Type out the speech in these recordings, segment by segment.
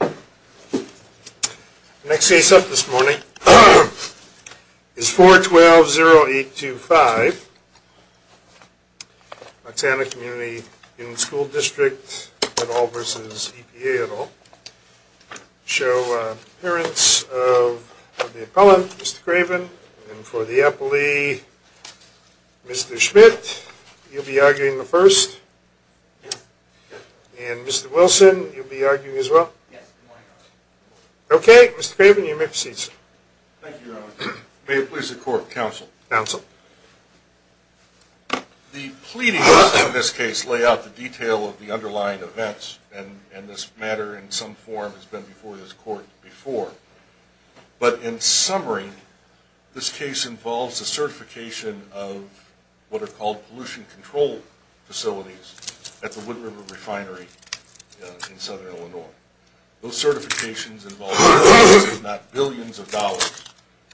The next case up this morning is 412-0825, Moxana Community Union School District et al. v. EPA et al. Show appearance of the appellant, Mr. Craven, and for the appellee, Mr. Schmidt. You'll be arguing the first, and Mr. Wilson, you'll be arguing as well? Yes. Okay. Mr. Craven, you may proceed, sir. Thank you, Your Honor. May it please the Court. Counsel. Counsel. The pleadings in this case lay out the detail of the underlying events, and this matter in some form has been before this Court before. But in summary, this case involves the certification of what are called pollution control facilities at the Wood River Refinery in Southern Illinois. Those certifications involve the taxes of not billions of dollars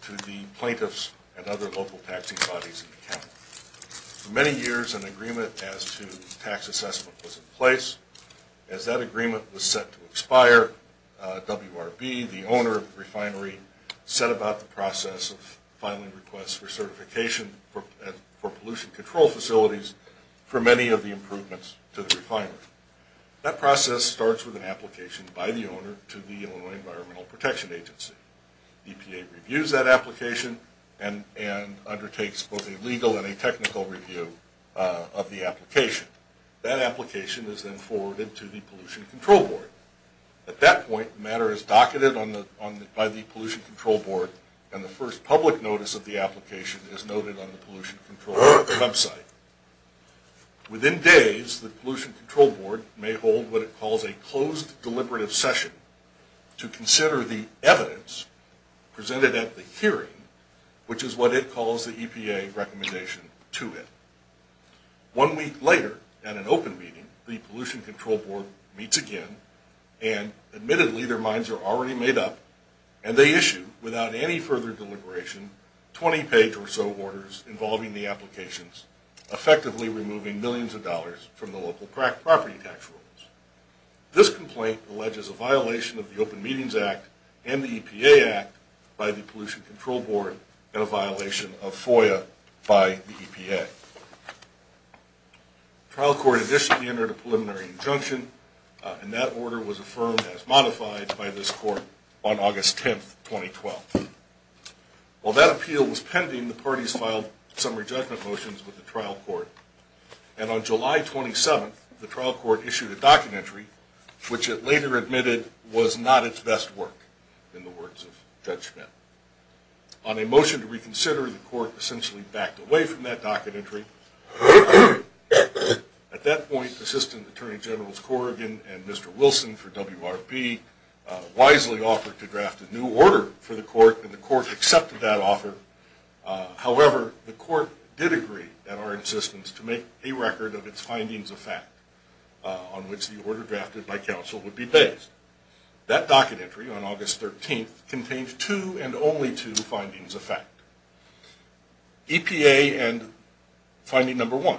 to the plaintiffs and other local taxing bodies in the county. For many years, an agreement as to tax assessment was in place. As that agreement was set to expire, WRB, the owner of the refinery, set about the process of filing requests for certification for pollution control facilities for many of the improvements to the refinery. That process starts with an application by the owner to the Illinois Environmental Protection Agency. EPA reviews that application and undertakes both a legal and a technical review of the application. That application is then forwarded to the Pollution Control Board. At that point, the matter is docketed by the Pollution Control Board, and the first public notice of the application is noted on the Pollution Control Board website. Within days, the Pollution Control Board may hold what it calls a closed deliberative session to consider the evidence presented at the hearing, which is what it calls the EPA recommendation to it. One week later, at an open meeting, the Pollution Control Board meets again, and admittedly, their minds are already made up, and they issue, without any further deliberation, 20 page or so orders involving the applications, effectively removing millions of dollars from the local property tax rules. This complaint alleges a violation of the Open Meetings Act and the EPA Act by the Pollution Control Board and a violation of FOIA by the EPA. The trial court additionally entered a preliminary injunction, and that order was affirmed as modified by this court on August 10, 2012. While that appeal was pending, the parties filed summary judgment motions with the trial court, and on July 27, the trial court issued a docket entry, which it later admitted was not its best work, in the words of Judge Schmidt. On a motion to reconsider, the court essentially backed away from that docket entry. At that point, Assistant Attorney Generals Corrigan and Mr. Wilson for WRB wisely offered to draft a new order for the court, and the court accepted that offer. However, the court did agree at our insistence to make a record of its findings of fact on which the order drafted by counsel would be based. That docket entry on August 13th contains two and only two findings of fact. EPA and finding number one,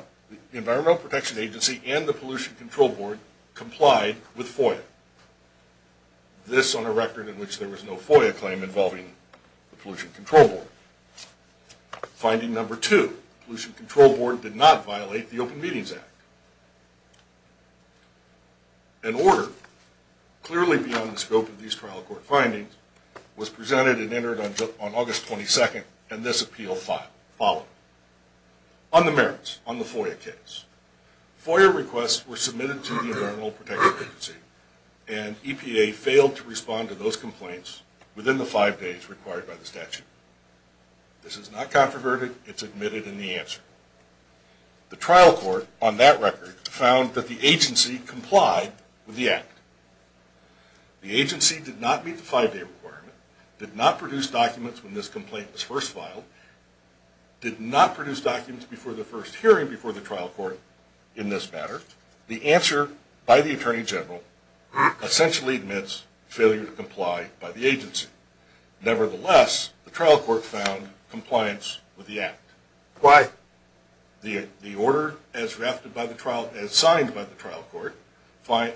the Environmental Protection Agency and the Pollution Control Board complied with FOIA. This on a record in which there was no FOIA claim involving the Pollution Control Board. Finding number two, Pollution Control Board did not violate the Open Meetings Act. An order, clearly beyond the scope of these trial court findings, was presented and entered on August 22nd, and this appeal followed. On the merits, on the FOIA case, FOIA requests were submitted to the Environmental Protection Agency, and EPA failed to respond to those complaints within the five days required by the statute. This is not controverted. It's admitted in the answer. The trial court on that record found that the agency complied with the act. The agency did not meet the five-day requirement, did not produce documents when this complaint was first filed, did not produce documents before the first hearing before the trial court in this matter. The answer by the Attorney General essentially admits failure to comply by the agency. Nevertheless, the trial court found compliance with the act. Why? The order, as drafted by the trial, as signed by the trial court,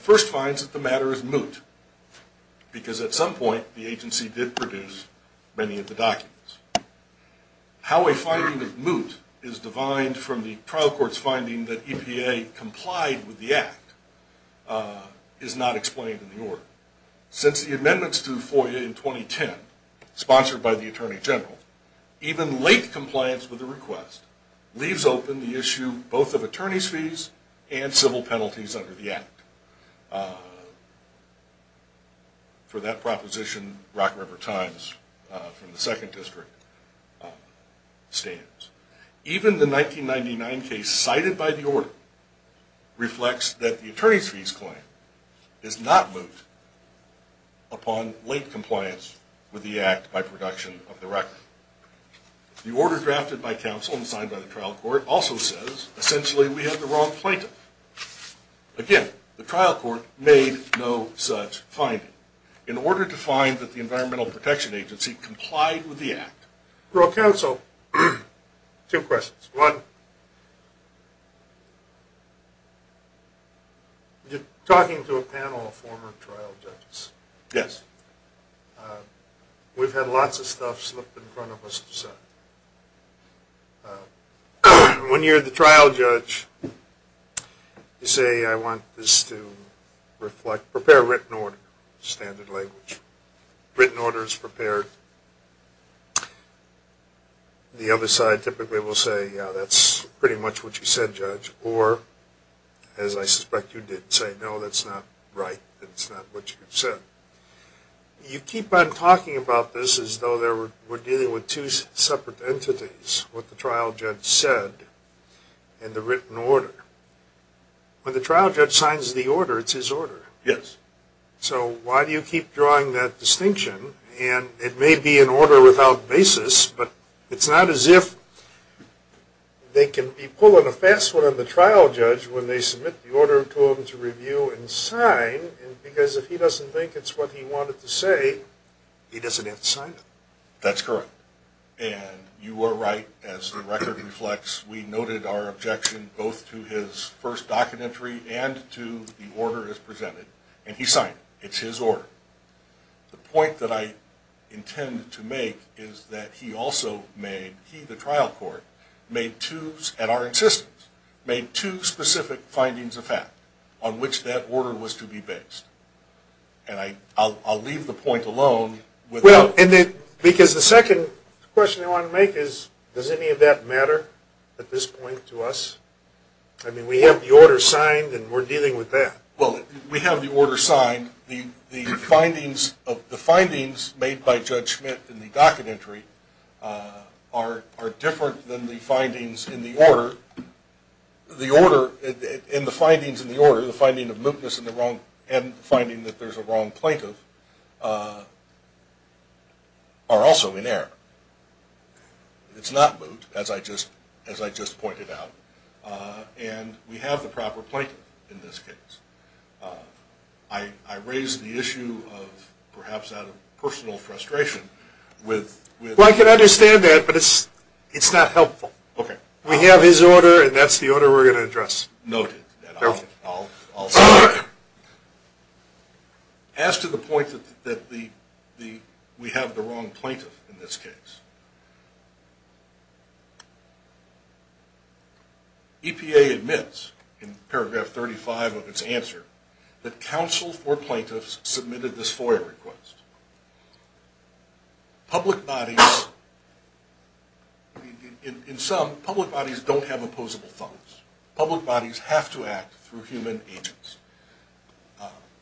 first finds that the matter is moot, because at some point the agency did produce many of the documents. How a finding of moot is defined from the trial court's finding that EPA complied with the act is not explained in the order. Since the amendments to the FOIA in 2010, sponsored by the Attorney General, even late compliance with the request leaves open the issue both of attorney's fees and civil penalties under the act. For that proposition, Rock River Times from the Second District stands. Even the 1999 case cited by the order reflects that the attorney's fees claim is not moot upon late compliance with the act by production of the record. The order drafted by counsel and signed by the trial court also says essentially we have the wrong plaintiff. Again, the trial court made no such finding. In order to find that the Environmental Protection Agency complied with the act. For a counsel, two questions. One, you're talking to a panel of former trial judges. Yes. We've had lots of stuff slipped in front of us to say. When you're the trial judge, you say I want this to reflect, prepare written order. Standard language. Written order is prepared. The other side typically will say, yeah, that's pretty much what you said, judge. Or, as I suspect you did say, no, that's not right. That's not what you said. You keep on talking about this as though we're dealing with two separate entities. What the trial judge said and the written order. When the trial judge signs the order, it's his order. Yes. So why do you keep drawing that distinction? And it may be an order without basis, but it's not as if they can be pulling a fast one on the trial judge when they submit the order to him to review and sign. Because if he doesn't think it's what he wanted to say, he doesn't have to sign it. That's correct. And you are right, as the record reflects, we noted our objection both to his first documentary and to the order as presented. And he signed it. It's his order. The point that I intend to make is that he also made, he, the trial court, made two, and our insistence, made two specific findings of fact on which that order was to be based. And I'll leave the point alone. Because the second question I want to make is, does any of that matter at this point to us? I mean, we have the order signed and we're dealing with that. Well, we have the order signed. The findings made by Judge Schmitt in the documentary are different than the findings in the order. In the findings in the order, the finding of mootness and the finding that there's a wrong plaintiff are also in error. It's not moot, as I just pointed out. And we have the proper plaintiff in this case. I raise the issue of, perhaps out of personal frustration, with Well, I can understand that, but it's not helpful. Okay. We have his order and that's the order we're going to address. Noted. I'll sign it. As to the point that we have the wrong plaintiff in this case, EPA admits, in paragraph 35 of its answer, that counsel for plaintiffs submitted this FOIA request. Public bodies, in sum, public bodies don't have opposable thumbs. Public bodies have to act through human agents.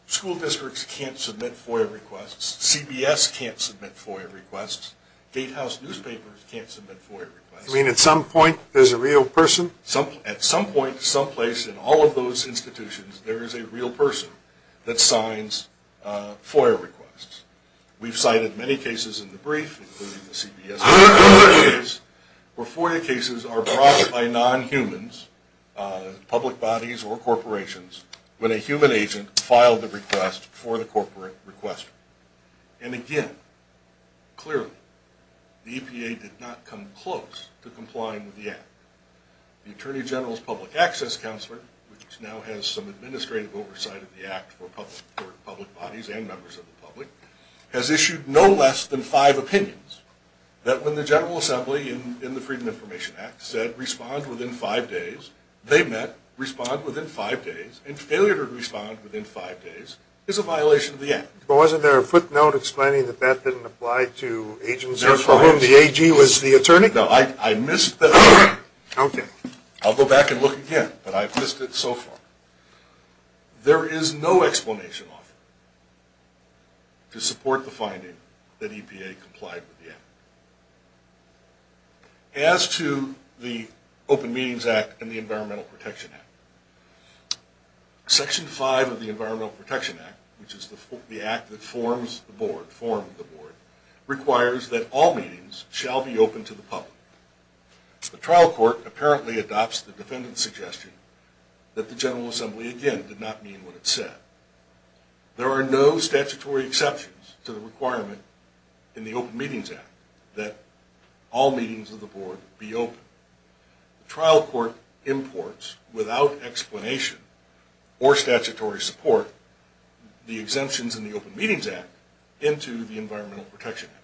School districts can't submit FOIA requests. CBS can't submit FOIA requests. Gatehouse newspapers can't submit FOIA requests. You mean at some point there's a real person? At some point, someplace in all of those institutions, there is a real person that signs FOIA requests. We've cited many cases in the brief, including the CBS case, where FOIA cases are brought by non-humans, public bodies or corporations, when a human agent filed a request for the corporate requestor. And again, clearly, the EPA did not come close to complying with the Act. The Attorney General's Public Access Counselor, which now has some administrative oversight of the Act for public bodies and members of the public, has issued no less than five opinions that when the General Assembly, in the Freedom of Information Act, said respond within five days, they met, respond within five days, and failure to respond within five days is a violation of the Act. But wasn't there a footnote explaining that that didn't apply to agents for whom the AG was the attorney? No, I missed that. Okay. I'll go back and look again, but I've missed it so far. There is no explanation offered to support the finding that EPA complied with the Act. As to the Open Meetings Act and the Environmental Protection Act, Section 5 of the Environmental Protection Act, which is the act that formed the board, requires that all meetings shall be open to the public. The trial court apparently adopts the defendant's suggestion that the General Assembly, again, did not mean what it said. There are no statutory exceptions to the requirement in the Open Meetings Act that all meetings of the board be open. The trial court imports, without explanation or statutory support, the exemptions in the Open Meetings Act into the Environmental Protection Act.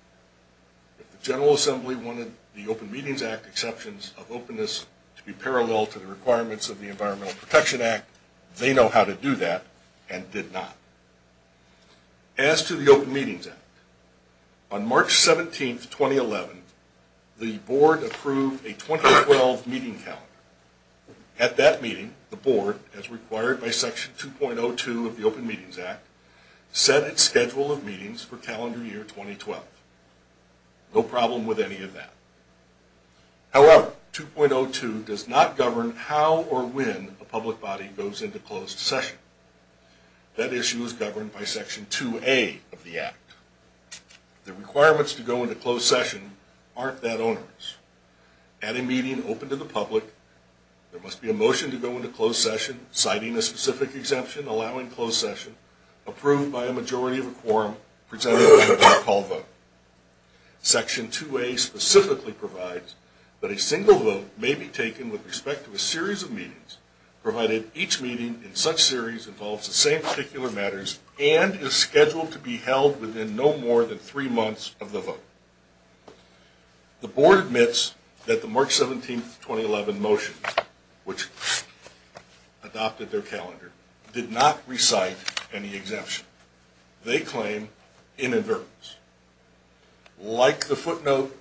If the General Assembly wanted the Open Meetings Act exceptions of openness to be parallel to the requirements of the Environmental Protection Act, they know how to do that and did not. As to the Open Meetings Act, on March 17, 2011, the board approved a 2012 meeting calendar. At that meeting, the board, as required by Section 2.02 of the Open Meetings Act, set its schedule of meetings for calendar year 2012. No problem with any of that. However, 2.02 does not govern how or when a public body goes into closed session. That issue is governed by Section 2.0a of the Act. The requirements to go into closed session aren't that onerous. At a meeting open to the public, there must be a motion to go into closed session citing a specific exemption allowing closed session, approved by a majority of a quorum, presented by a by-call vote. Section 2.0a specifically provides that a single vote may be taken with respect to a series of meetings, provided each meeting in such series involves the same particular matters and is scheduled to be held within no more than three months of the vote. The board admits that the March 17, 2011, motions, which adopted their calendar, did not recite any exemption. They claim inadvertence. Like the footnote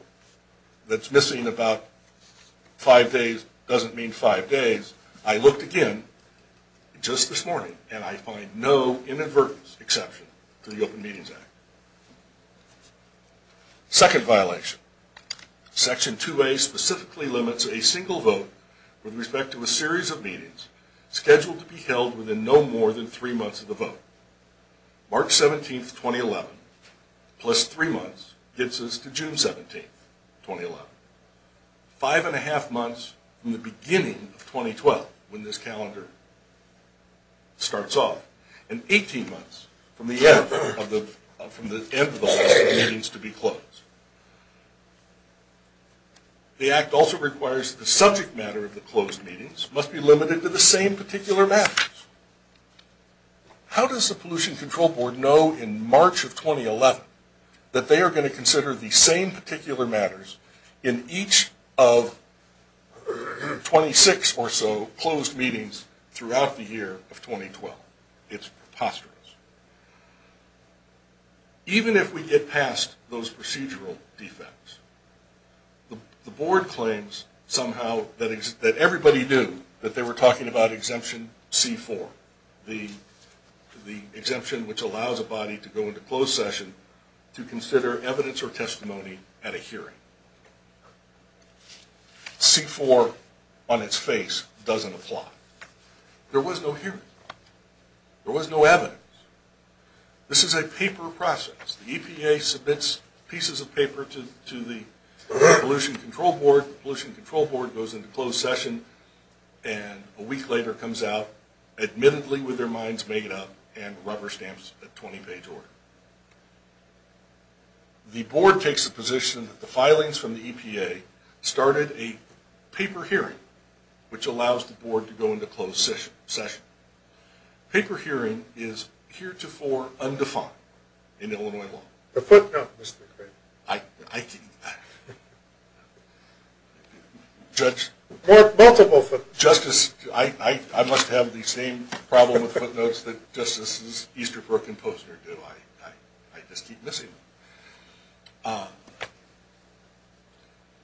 that's missing about five days doesn't mean five days, I looked again just this morning and I find no inadvertence exception to the Open Meetings Act. Second violation. Section 2.0a specifically limits a single vote with respect to a series of meetings scheduled to be held within no more than three months of the vote. March 17, 2011, plus three months, gets us to June 17, 2011. Five and a half months from the beginning of 2012, when this calendar starts off, and 18 months from the end of the last of the meetings to be closed. The Act also requires that the subject matter of the closed meetings must be limited to the same particular matters. How does the Pollution Control Board know in March of 2011 that they are going to consider the same particular matters in each of 26 or so closed meetings throughout the year of 2012? It's preposterous. Even if we get past those procedural defects, the Board claims somehow that everybody knew that they were talking about Exemption C-4, the exemption which allows a body to go into closed session to consider evidence or testimony at a hearing. C-4 on its face doesn't apply. There was no hearing. There was no evidence. This is a paper process. The EPA submits pieces of paper to the Pollution Control Board. The Pollution Control Board goes into closed session, and a week later comes out admittedly with their minds made up and rubber stamps a 20-page order. The Board takes the position that the filings from the EPA started a paper hearing, which allows the Board to go into closed session. Paper hearing is heretofore undefined in Illinois law.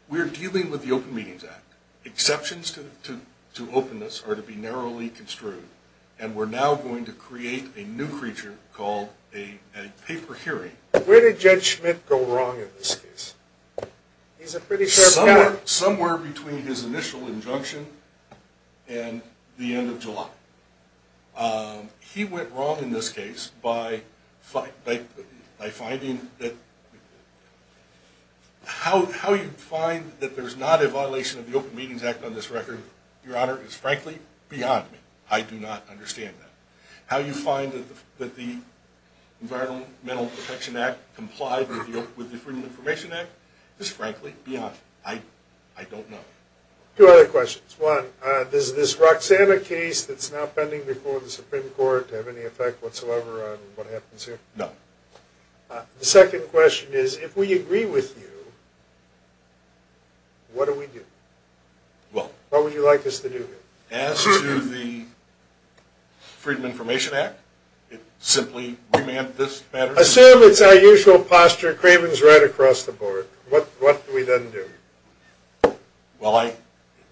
We are dealing with the Open Meetings Act. Exceptions to openness are to be narrowly construed, and we're now going to create a new creature called a paper hearing. Where did Judge Schmidt go wrong in this case? Somewhere between his initial injunction and the end of July. He went wrong in this case by finding that how you find that there's not a violation of the Open Meetings Act on this record, Your Honor, is frankly beyond me. I do not understand that. How you find that the Environmental Protection Act complied with the Freedom of Information Act is frankly beyond me. I don't know. Two other questions. One, is this Roxanna case that's now pending before the Supreme Court have any effect whatsoever on what happens here? No. The second question is, if we agree with you, what do we do? What would you like us to do here? As to the Freedom of Information Act, it simply remanded this matter? Assume it's our usual posture. Craven's right across the board. What do we then do? Well, I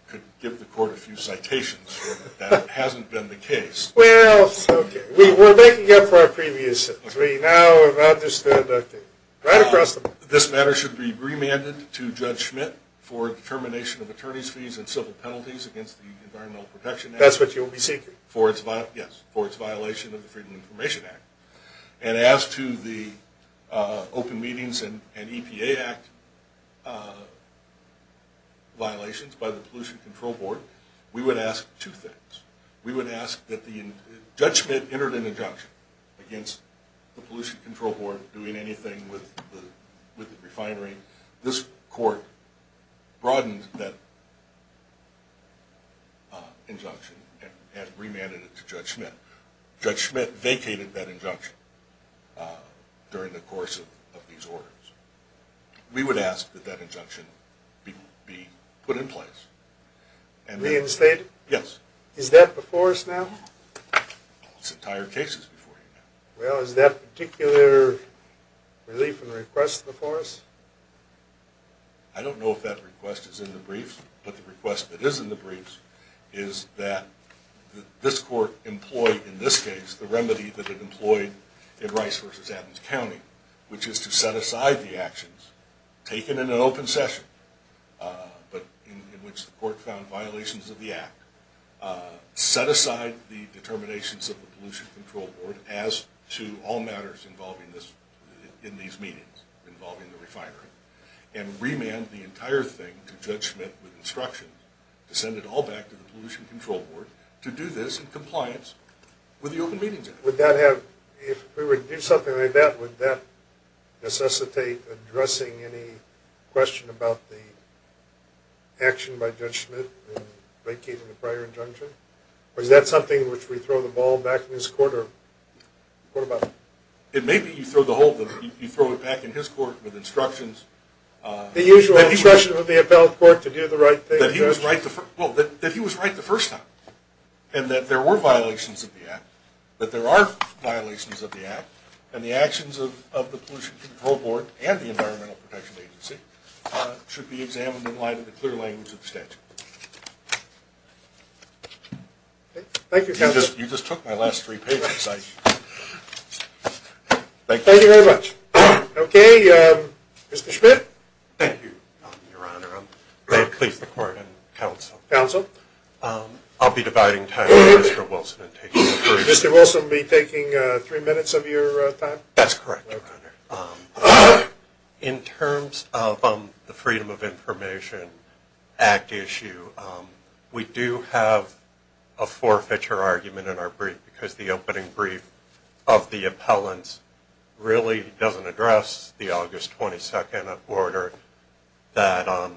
could give the Court a few citations, but that hasn't been the case. Well, it's okay. We're making up for our previous sins. We now have understood that right across the board. This matter should be remanded to Judge Schmidt for determination of attorney's fees and civil penalties against the Environmental Protection Act. That's what you'll be seeking? Yes, for its violation of the Freedom of Information Act. And as to the Open Meetings and EPA Act violations by the Pollution Control Board, we would ask two things. Judge Schmidt entered an injunction against the Pollution Control Board doing anything with the refinery. This Court broadened that injunction and remanded it to Judge Schmidt. Judge Schmidt vacated that injunction during the course of these orders. We would ask that that injunction be put in place. Reinstated? Yes. Is that before us now? It's entire cases before you now. Well, is that particular relief and request before us? I don't know if that request is in the briefs, but the request that is in the briefs is that this Court employ, in this case, the remedy that it employed in Rice v. Adams County, which is to set aside the actions taken in an open session, but in which the Court found violations of the Act, set aside the determinations of the Pollution Control Board as to all matters involving this, in these meetings involving the refinery, and remanded the entire thing to Judge Schmidt with instructions to send it all back to the Pollution Control Board to do this in compliance with the Open Meetings Act. Would that have, if we were to do something like that, would that necessitate addressing any question about the action by Judge Schmidt in vacating the prior injunction? Or is that something which we throw the ball back in his Court, or what about it? It may be you throw it back in his Court with instructions. The usual instruction of the appellate court to do the right thing. That he was right the first time, and that there were violations of the Act, that there are violations of the Act, and the actions of the Pollution Control Board and the Environmental Protection Agency should be examined in light of the clear language of the statute. Thank you, Counselor. You just took my last three pages. Thank you very much. Okay, Mr. Schmidt. Thank you, Your Honor. May it please the Court and Counsel. Counsel. I'll be dividing time with Mr. Wilson and taking the brief. Mr. Wilson will be taking three minutes of your time? That's correct, Your Honor. In terms of the Freedom of Information Act issue, we do have a forfeiture argument in our brief because the opening brief of the appellant really doesn't address the August 22nd order that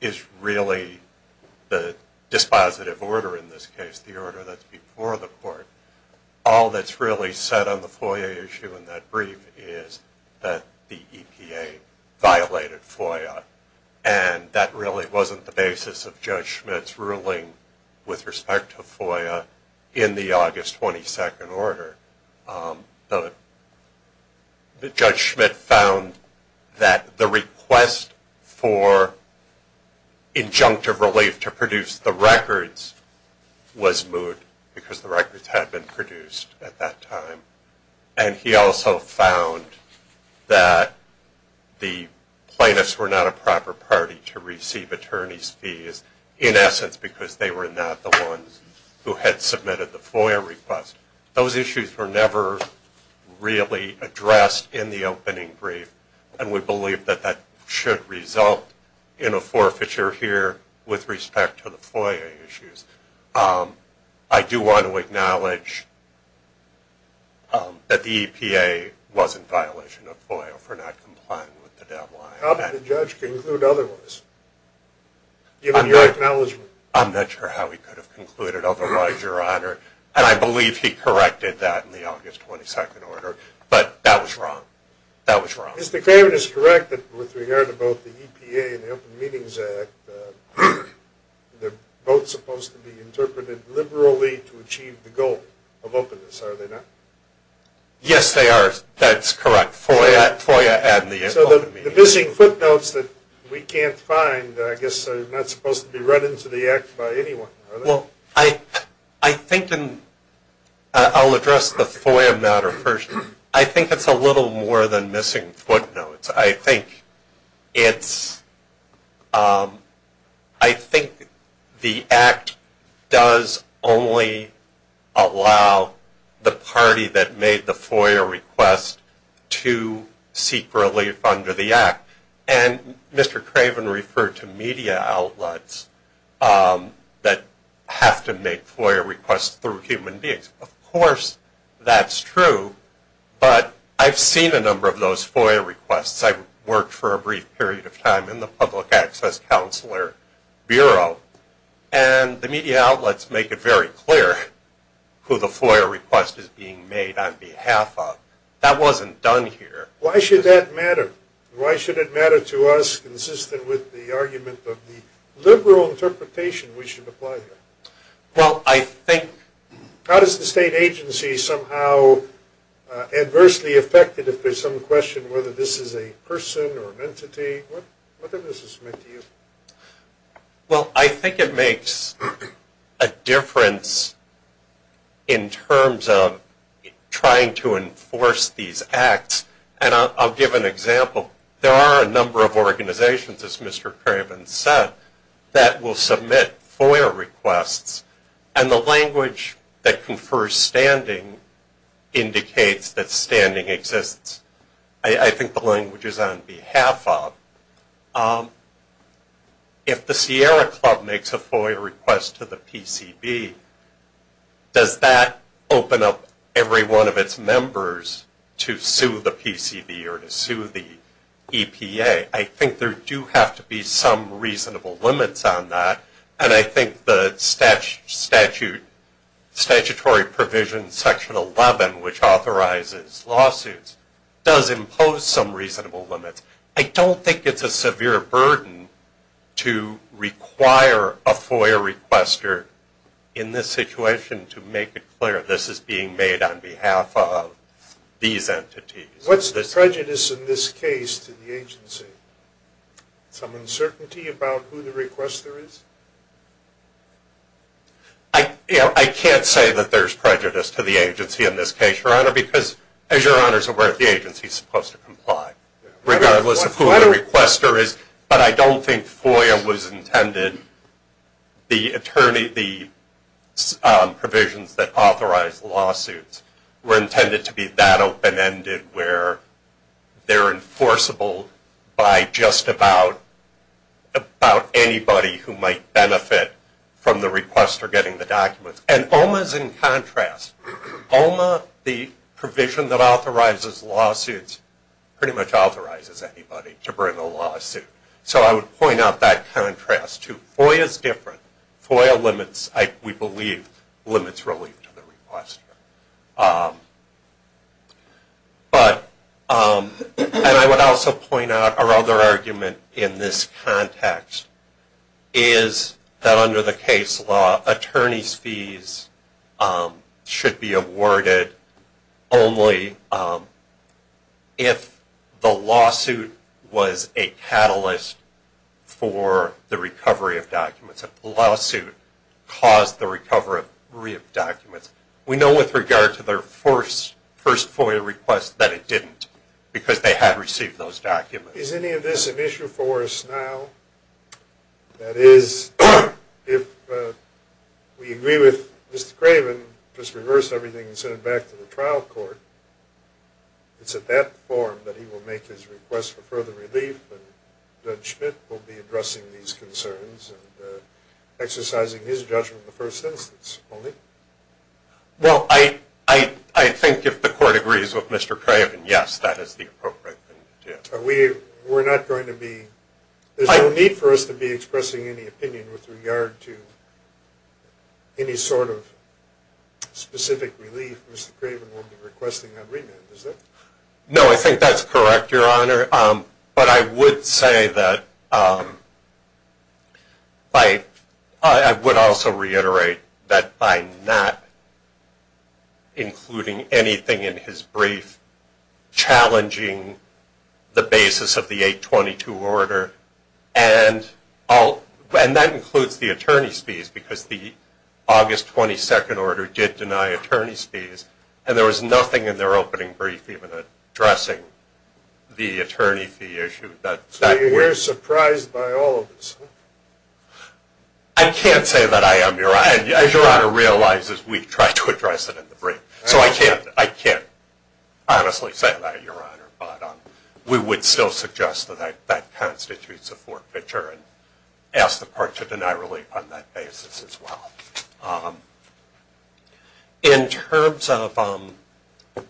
is really the dispositive order in this case, the order that's before the Court. All that's really said on the FOIA issue in that brief is that the EPA violated FOIA, and that really wasn't the basis of Judge Schmidt's ruling with respect to FOIA in the August 22nd order. Judge Schmidt found that the request for injunctive relief to produce the records was moot because the records had been produced at that time, and he also found that the plaintiffs were not a proper party to receive attorney's fees, in essence because they were not the ones who had submitted the FOIA request. Those issues were never really addressed in the opening brief, and we believe that that should result in a forfeiture here with respect to the FOIA issues. I do want to acknowledge that the EPA was in violation of FOIA for not complying with the deadline. How did the judge conclude otherwise, given your acknowledgement? I'm not sure how he could have concluded otherwise, Your Honor, and I believe he corrected that in the August 22nd order, but that was wrong. That was wrong. Mr. Craven is correct that with regard to both the EPA and the Open Meetings Act, they're both supposed to be interpreted liberally to achieve the goal of openness, are they not? Yes, they are. That's correct, FOIA and the Open Meetings Act. So the missing footnotes that we can't find, I guess, are not supposed to be run into the Act by anyone, are they? Well, I think I'll address the FOIA matter first. I think it's a little more than missing footnotes. I think the Act does only allow the party that made the FOIA request to seek relief under the Act, and Mr. Craven referred to media outlets that have to make FOIA requests through human beings. Of course that's true, but I've seen a number of those FOIA requests. I worked for a brief period of time in the Public Access Counselor Bureau, and the media outlets make it very clear who the FOIA request is being made on behalf of. That wasn't done here. Why should that matter? Why should it matter to us, consistent with the argument of the liberal interpretation we should apply here? Well, I think... How does the state agency somehow adversely affect it if there's some question whether this is a person or an entity? What does this mean to you? Well, I think it makes a difference in terms of trying to enforce these Acts. I'll give an example. There are a number of organizations, as Mr. Craven said, that will submit FOIA requests, and the language that confers standing indicates that standing exists. I think the language is on behalf of. If the Sierra Club makes a FOIA request to the PCB, does that open up every one of its members to sue the PCB or to sue the EPA? I think there do have to be some reasonable limits on that, and I think the statutory provision, Section 11, which authorizes lawsuits, does impose some reasonable limits. I don't think it's a severe burden to require a FOIA requester in this situation to make it clear this is being made on behalf of these entities. What's the prejudice in this case to the agency? Some uncertainty about who the requester is? I can't say that there's prejudice to the agency in this case, Your Honor, because, as Your Honor is aware, the agency is supposed to comply regardless of who the requester is. But I don't think FOIA was intended, the provisions that authorize lawsuits, were intended to be that open-ended where they're enforceable by just about anybody who might benefit from the requester getting the documents. And OMA is in contrast. OMA, the provision that authorizes lawsuits, pretty much authorizes anybody to bring a lawsuit. So I would point out that contrast, too. FOIA is different. FOIA limits, we believe, limits relief to the requester. But I would also point out our other argument in this context is that under the case law, attorney's fees should be awarded only if the lawsuit was a catalyst for the recovery of documents, if the lawsuit caused the recovery of documents. We know with regard to their first FOIA request that it didn't because they had received those documents. Is any of this an issue for us now? That is, if we agree with Mr. Craven, just reverse everything and send it back to the trial court, it's at that forum that he will make his request for further relief, and Judge Schmidt will be addressing these concerns and exercising his judgment in the first instance only. Well, I think if the court agrees with Mr. Craven, yes, that is the appropriate thing to do. We're not going to be, there's no need for us to be expressing any opinion with regard to any sort of specific relief Mr. Craven will be requesting on remand, is there? No, I think that's correct, Your Honor. But I would say that, I would also reiterate that by not including anything in his brief challenging the basis of the 822 order, and that includes the attorney's fees because the August 22nd order did deny attorney's fees, and there was nothing in their opening brief even addressing the attorney fee issue. So you're surprised by all of this? I can't say that I am, Your Honor, and Your Honor realizes we tried to address it in the brief, so I can't honestly say that, Your Honor, but we would still suggest that that constitutes a forfeiture and ask the court to deny relief on that basis as well. In terms of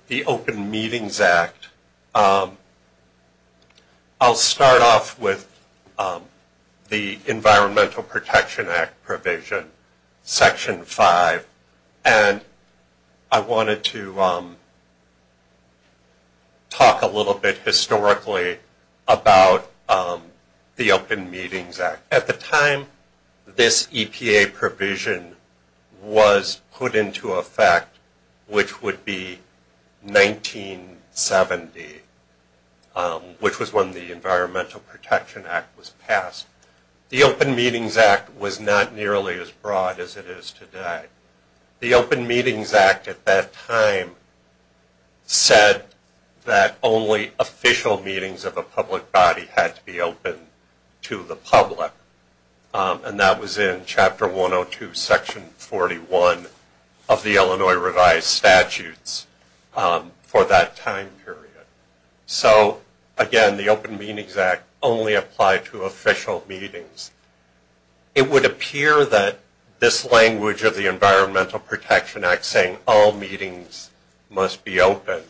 the Open Meetings Act, I'll start off with the Environmental Protection Act provision, Section 5, and I wanted to talk a little bit historically about the Open Meetings Act. At the time this EPA provision was put into effect, which would be 1970, which was when the Environmental Protection Act was passed, the Open Meetings Act was not nearly as broad as it is today. The Open Meetings Act at that time said that only official meetings of a public body had to be open to the public, and that was in Chapter 102, Section 41 of the Illinois Revised Statutes for that time period. So, again, the Open Meetings Act only applied to official meetings. It would appear that this language of the Environmental Protection Act saying all meetings must be open,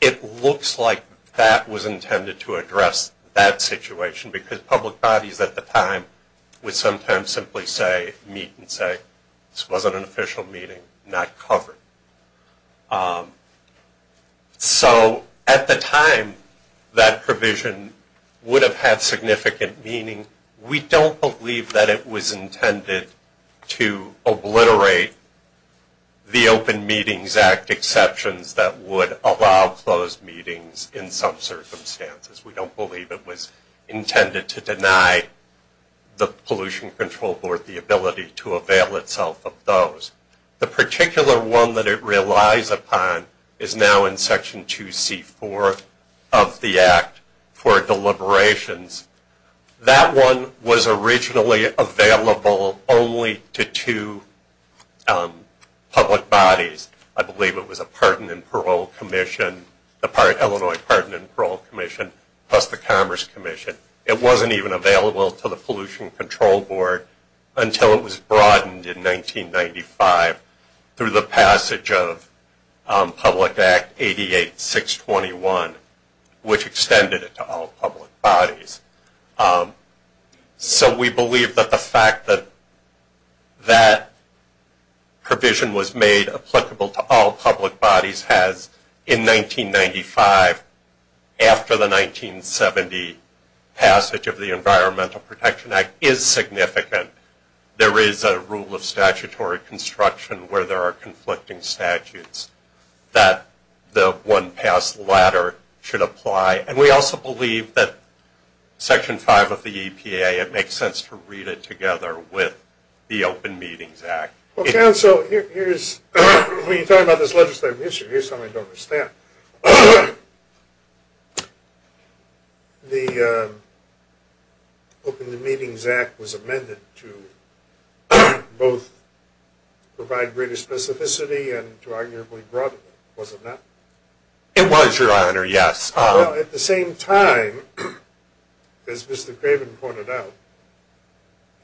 it looks like that was intended to address that situation, because public bodies at the time would sometimes simply say, meet and say, this wasn't an official meeting, not covered. So, at the time, that provision would have had significant meaning. We don't believe that it was intended to obliterate the Open Meetings Act exceptions that would allow closed meetings in some circumstances. We don't believe it was intended to deny the Pollution Control Board the ability to avail itself of those. The particular one that it relies upon is now in Section 2C4 of the Act for deliberations. That one was originally available only to two public bodies. I believe it was a Pardon and Parole Commission, the Illinois Pardon and Parole Commission, plus the Commerce Commission. It wasn't even available to the Pollution Control Board until it was broadened in 1995 through the passage of Public Act 88-621, which extended it to all public bodies. So, we believe that the fact that that provision was made applicable to all public bodies has, in 1995, after the 1970 passage of the Environmental Protection Act, is significant. There is a rule of statutory construction where there are conflicting statutes that the one-pass ladder should apply. And we also believe that Section 5 of the EPA, it makes sense to read it together with the Open Meetings Act. Well, counsel, when you talk about this legislative issue, here's something I don't understand. The Open Meetings Act was amended to both provide greater specificity and to arguably broaden it, was it not? It was, Your Honor, yes. Well, at the same time, as Mr. Craven pointed out,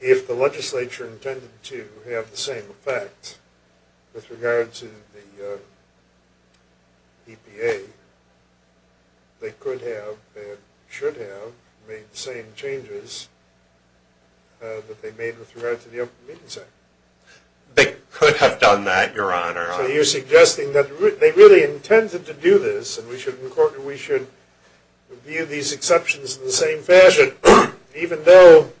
if the legislature intended to have the same effect with regard to the EPA, they could have and should have made the same changes that they made with regard to the Open Meetings Act. They could have done that, Your Honor. So, you're suggesting that they really intended to do this, and we should view these exceptions in the same fashion, even though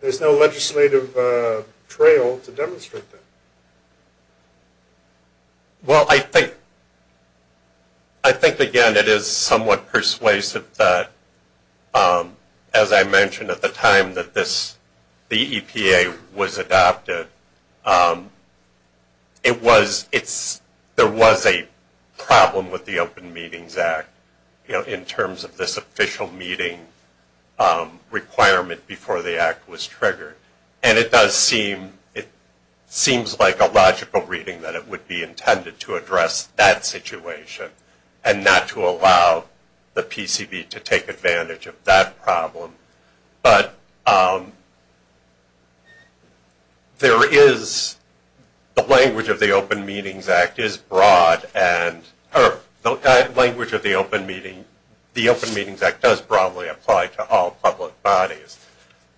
there's no legislative trail to demonstrate that. Well, I think, again, it is somewhat persuasive that, as I mentioned at the time that the EPA was adopted, there was a problem with the Open Meetings Act in terms of this official meeting requirement before the act was triggered. And it does seem, it seems like a logical reading that it would be intended to address that situation and not to allow the PCV to take advantage of that problem. But there is, the language of the Open Meetings Act is broad and, or the language of the Open Meeting, the Open Meetings Act does broadly apply to all public bodies.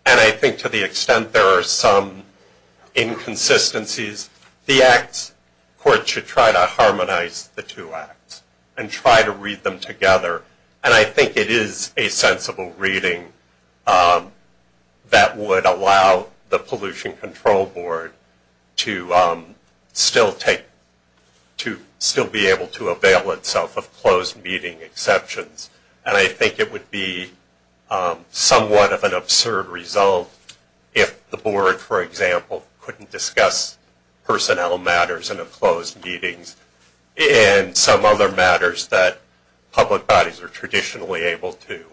And I think to the extent there are some inconsistencies, the acts, courts should try to harmonize the two acts and try to read them together. And I think it is a sensible reading that would allow the Pollution Control Board to still take, to still be able to avail itself of closed meeting exceptions. And I think it would be somewhat of an absurd result if the board, for example, couldn't discuss personnel matters in the closed meetings and some other matters that public bodies are traditionally able to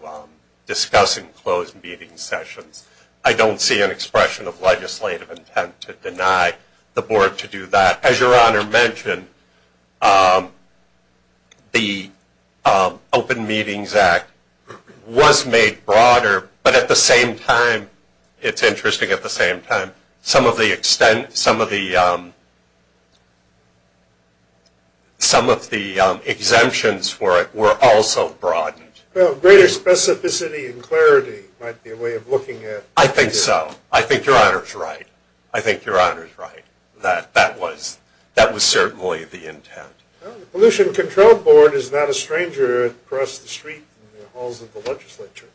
discuss in closed meeting sessions. I don't see an expression of legislative intent to deny the board to do that. As Your Honor mentioned, the Open Meetings Act was made broader, but at the same time, it's interesting at the same time, some of the exemptions for it were also broadened. Well, greater specificity and clarity might be a way of looking at it. I think so. I think Your Honor's right. I think Your Honor's right that that was certainly the intent. The Pollution Control Board is not a stranger across the street in the halls of the legislature.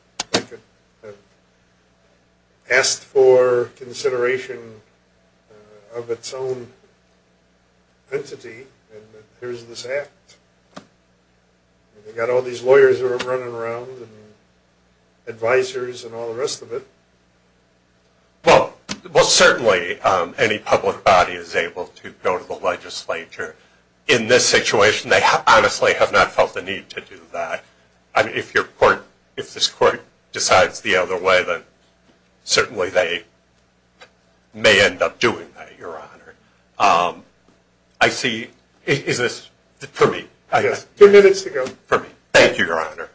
Asked for consideration of its own entity, and here's this act. They've got all these lawyers running around and advisors and all the rest of it. Well, certainly any public body is able to go to the legislature. In this situation, they honestly have not felt the need to do that. If this court decides the other way, then certainly they may end up doing that, Your Honor. Is this for me? Yes, two minutes to go. Thank you, Your Honor.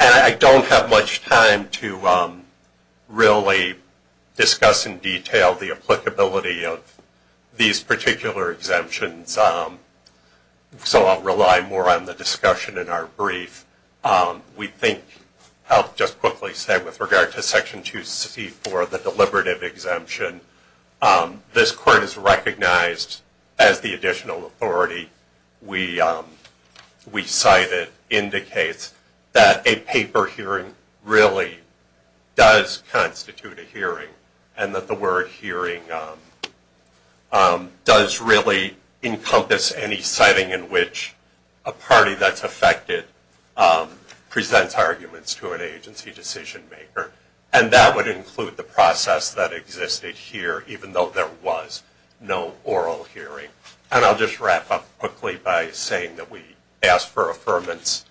I don't have much time to really discuss in detail the applicability of these particular exemptions, so I'll rely more on the discussion in our brief. We think I'll just quickly say with regard to Section 264, the deliberative exemption, this court has recognized as the additional authority. We cite it indicates that a paper hearing really does constitute a hearing, and that the word hearing does really encompass any setting in which a party that's affected presents arguments to an agency decision-maker, and that would include the process that existed here, even though there was no oral hearing. And I'll just wrap up quickly by saying that we ask for affirmance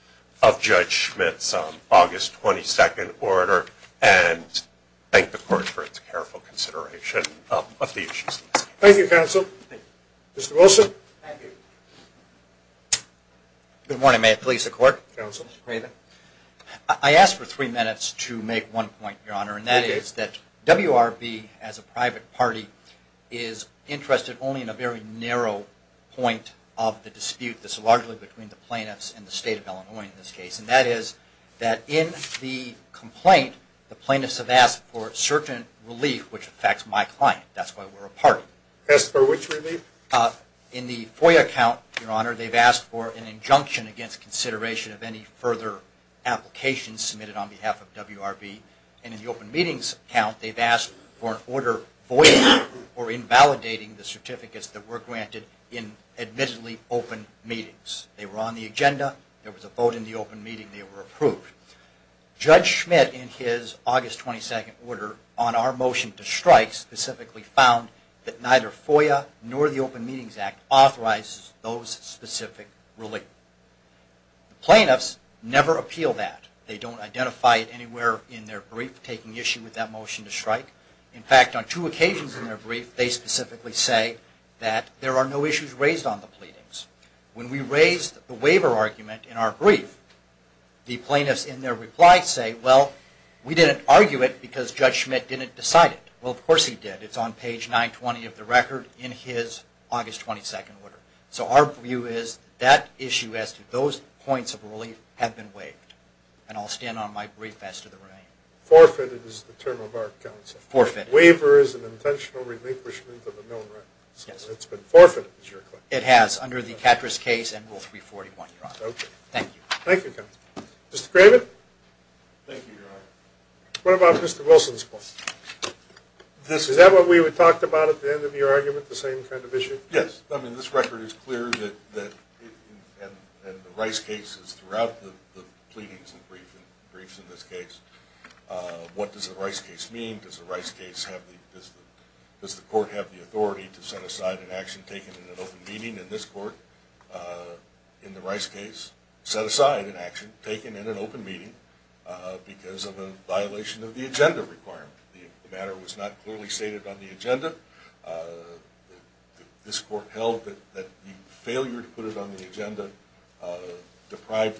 of Judge Schmidt's August 22nd order and thank the court for its careful consideration of the issues. Thank you, counsel. Mr. Wilson. Thank you. Good morning. May it please the court. Counsel. I ask for three minutes to make one point, Your Honor, and that is that WRB as a private party is interested only in a very narrow point of the dispute that's largely between the plaintiffs and the State of Illinois in this case, and that is that in the complaint, the plaintiffs have asked for certain relief which affects my client. That's why we're a party. Asked for which relief? In the FOIA account, Your Honor, they've asked for an injunction against consideration of any further applications submitted on behalf of WRB, and in the open meetings account, they've asked for an order voiding or invalidating the certificates that were granted in admittedly open meetings. They were on the agenda. There was a vote in the open meeting. They were approved. Judge Schmidt, in his August 22nd order, on our motion to strike, specifically found that neither FOIA nor the Open Meetings Act authorizes those specific relief. The plaintiffs never appeal that. They don't identify it anywhere in their brief, taking issue with that motion to strike. In fact, on two occasions in their brief, they specifically say that there are no issues raised on the pleadings. When we raised the waiver argument in our brief, the plaintiffs in their reply say, well, we didn't argue it because Judge Schmidt didn't decide it. Well, of course he did. It's on page 920 of the record in his August 22nd order. So our view is that issue as to those points of relief have been waived, and I'll stand on my brief as to the remaining. Forfeited is the term of our counsel. Forfeited. Waiver is an intentional relinquishment of a known right. So it's been forfeited, is your claim? It has, under the Katras case and Rule 341, Your Honor. Okay. Thank you. Thank you, counsel. Mr. Craven? Thank you, Your Honor. What about Mr. Wilson's claim? Is that what we talked about at the end of your argument, the same kind of issue? Yes. I mean, this record is clear that the Rice case is throughout the pleadings and briefs in this case. What does the Rice case mean? Does the court have the authority to set aside an action taken in an open meeting? In this court, in the Rice case, set aside an action taken in an open meeting because of a violation of the agenda requirement. The matter was not clearly stated on the agenda. This court held that the failure to put it on the agenda deprived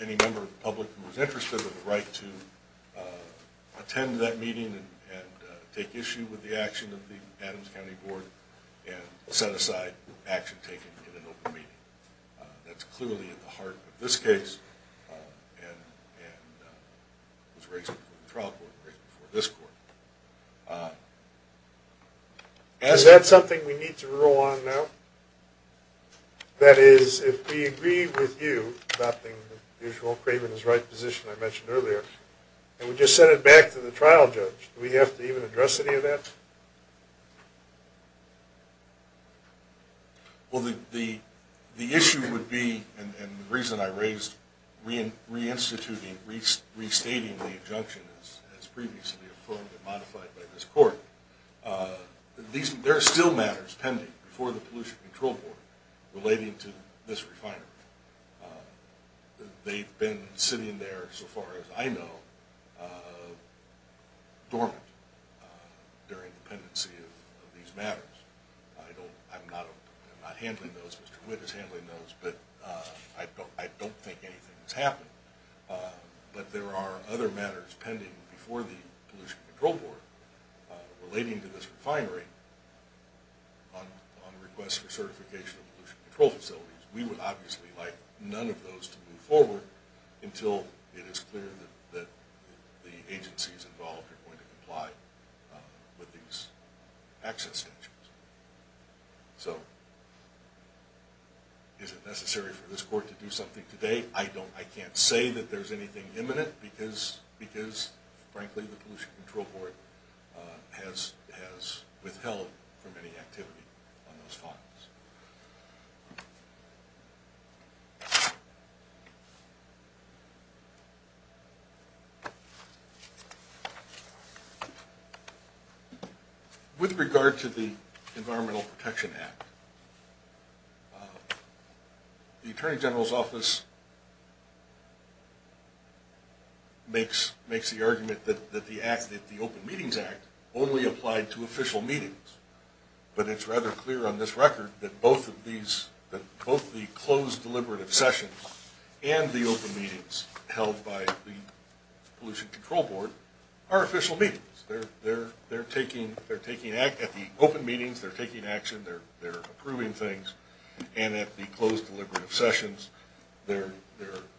any member of the public who was interested of the right to attend that meeting and take issue with the action of the Adams County Board and set aside action taken in an open meeting. That's clearly at the heart of this case and was raised before the trial court, raised before this court. Is that something we need to rule on now? That is, if we agree with you adopting the usual Craven is right position I mentioned earlier and we just send it back to the trial judge, do we have to even address any of that? Well, the issue would be, and the reason I raised reinstituting, restating the injunction as previously affirmed and modified by this court, there are still matters pending before the Pollution Control Board relating to this refinery. They've been sitting there, so far as I know, dormant during the pendency of these matters. I'm not handling those, Mr. Witt is handling those, but I don't think anything has happened. But there are other matters pending before the Pollution Control Board relating to this refinery on the request for certification of pollution control facilities. We would obviously like none of those to move forward until it is clear that the agencies involved are going to comply with these access sanctions. So, is it necessary for this court to do something today? I can't say that there's anything imminent because, frankly, the Pollution Control Board has withheld from any activity on those funds. With regard to the Environmental Protection Act, the Attorney General's Office makes the argument that the Open Meetings Act only applied to official meetings. But it's rather clear on this record that both the closed deliberative sessions and the open meetings held by the Pollution Control Board are official meetings. At the open meetings, they're taking action, they're approving things, and at the closed deliberative sessions, they're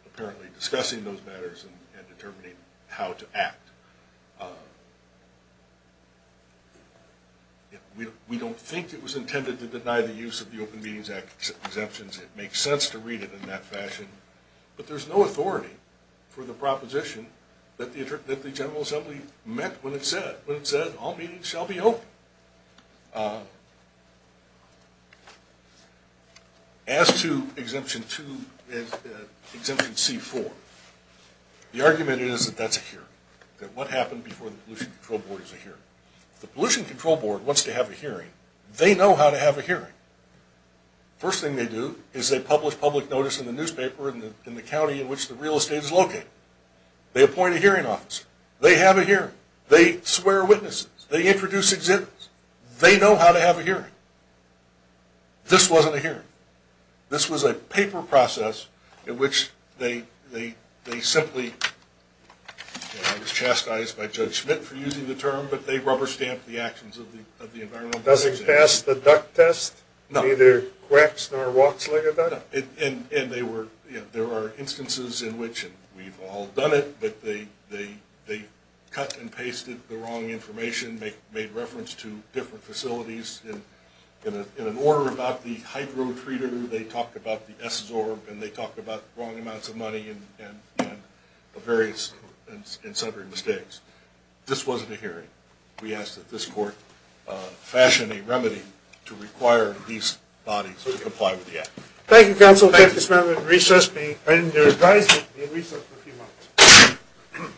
apparently discussing those matters and determining how to act. We don't think it was intended to deny the use of the Open Meetings Act exemptions. It makes sense to read it in that fashion. But there's no authority for the proposition that the General Assembly meant when it said, when it said, all meetings shall be open. As to Exemption C-4, the argument is that that's a hearing, that what happened before the Pollution Control Board is a hearing. The Pollution Control Board wants to have a hearing. They know how to have a hearing. First thing they do is they publish public notice in the newspaper in the county in which the real estate is located. They appoint a hearing officer. They have a hearing. They swear witnesses. They introduce exemptions. They know how to have a hearing. This wasn't a hearing. This was a paper process in which they simply, and I was chastised by Judge Schmidt for using the term, but they rubber-stamped the actions of the Environmental Protection Agency. Does it pass the duck test? No. Neither quacks nor walks like a duck? No. And there are instances in which, and we've all done it, that they cut and pasted the wrong information, made reference to different facilities. In an order about the hydro-treater, they talked about the S-Zorb, and they talked about wrong amounts of money and various and separate mistakes. This wasn't a hearing. We ask that this court fashion a remedy to require these bodies to comply with the act. Thank you, Counsel. Thank you, Mr. Chairman. Recess. And your advisement will be recessed for a few moments.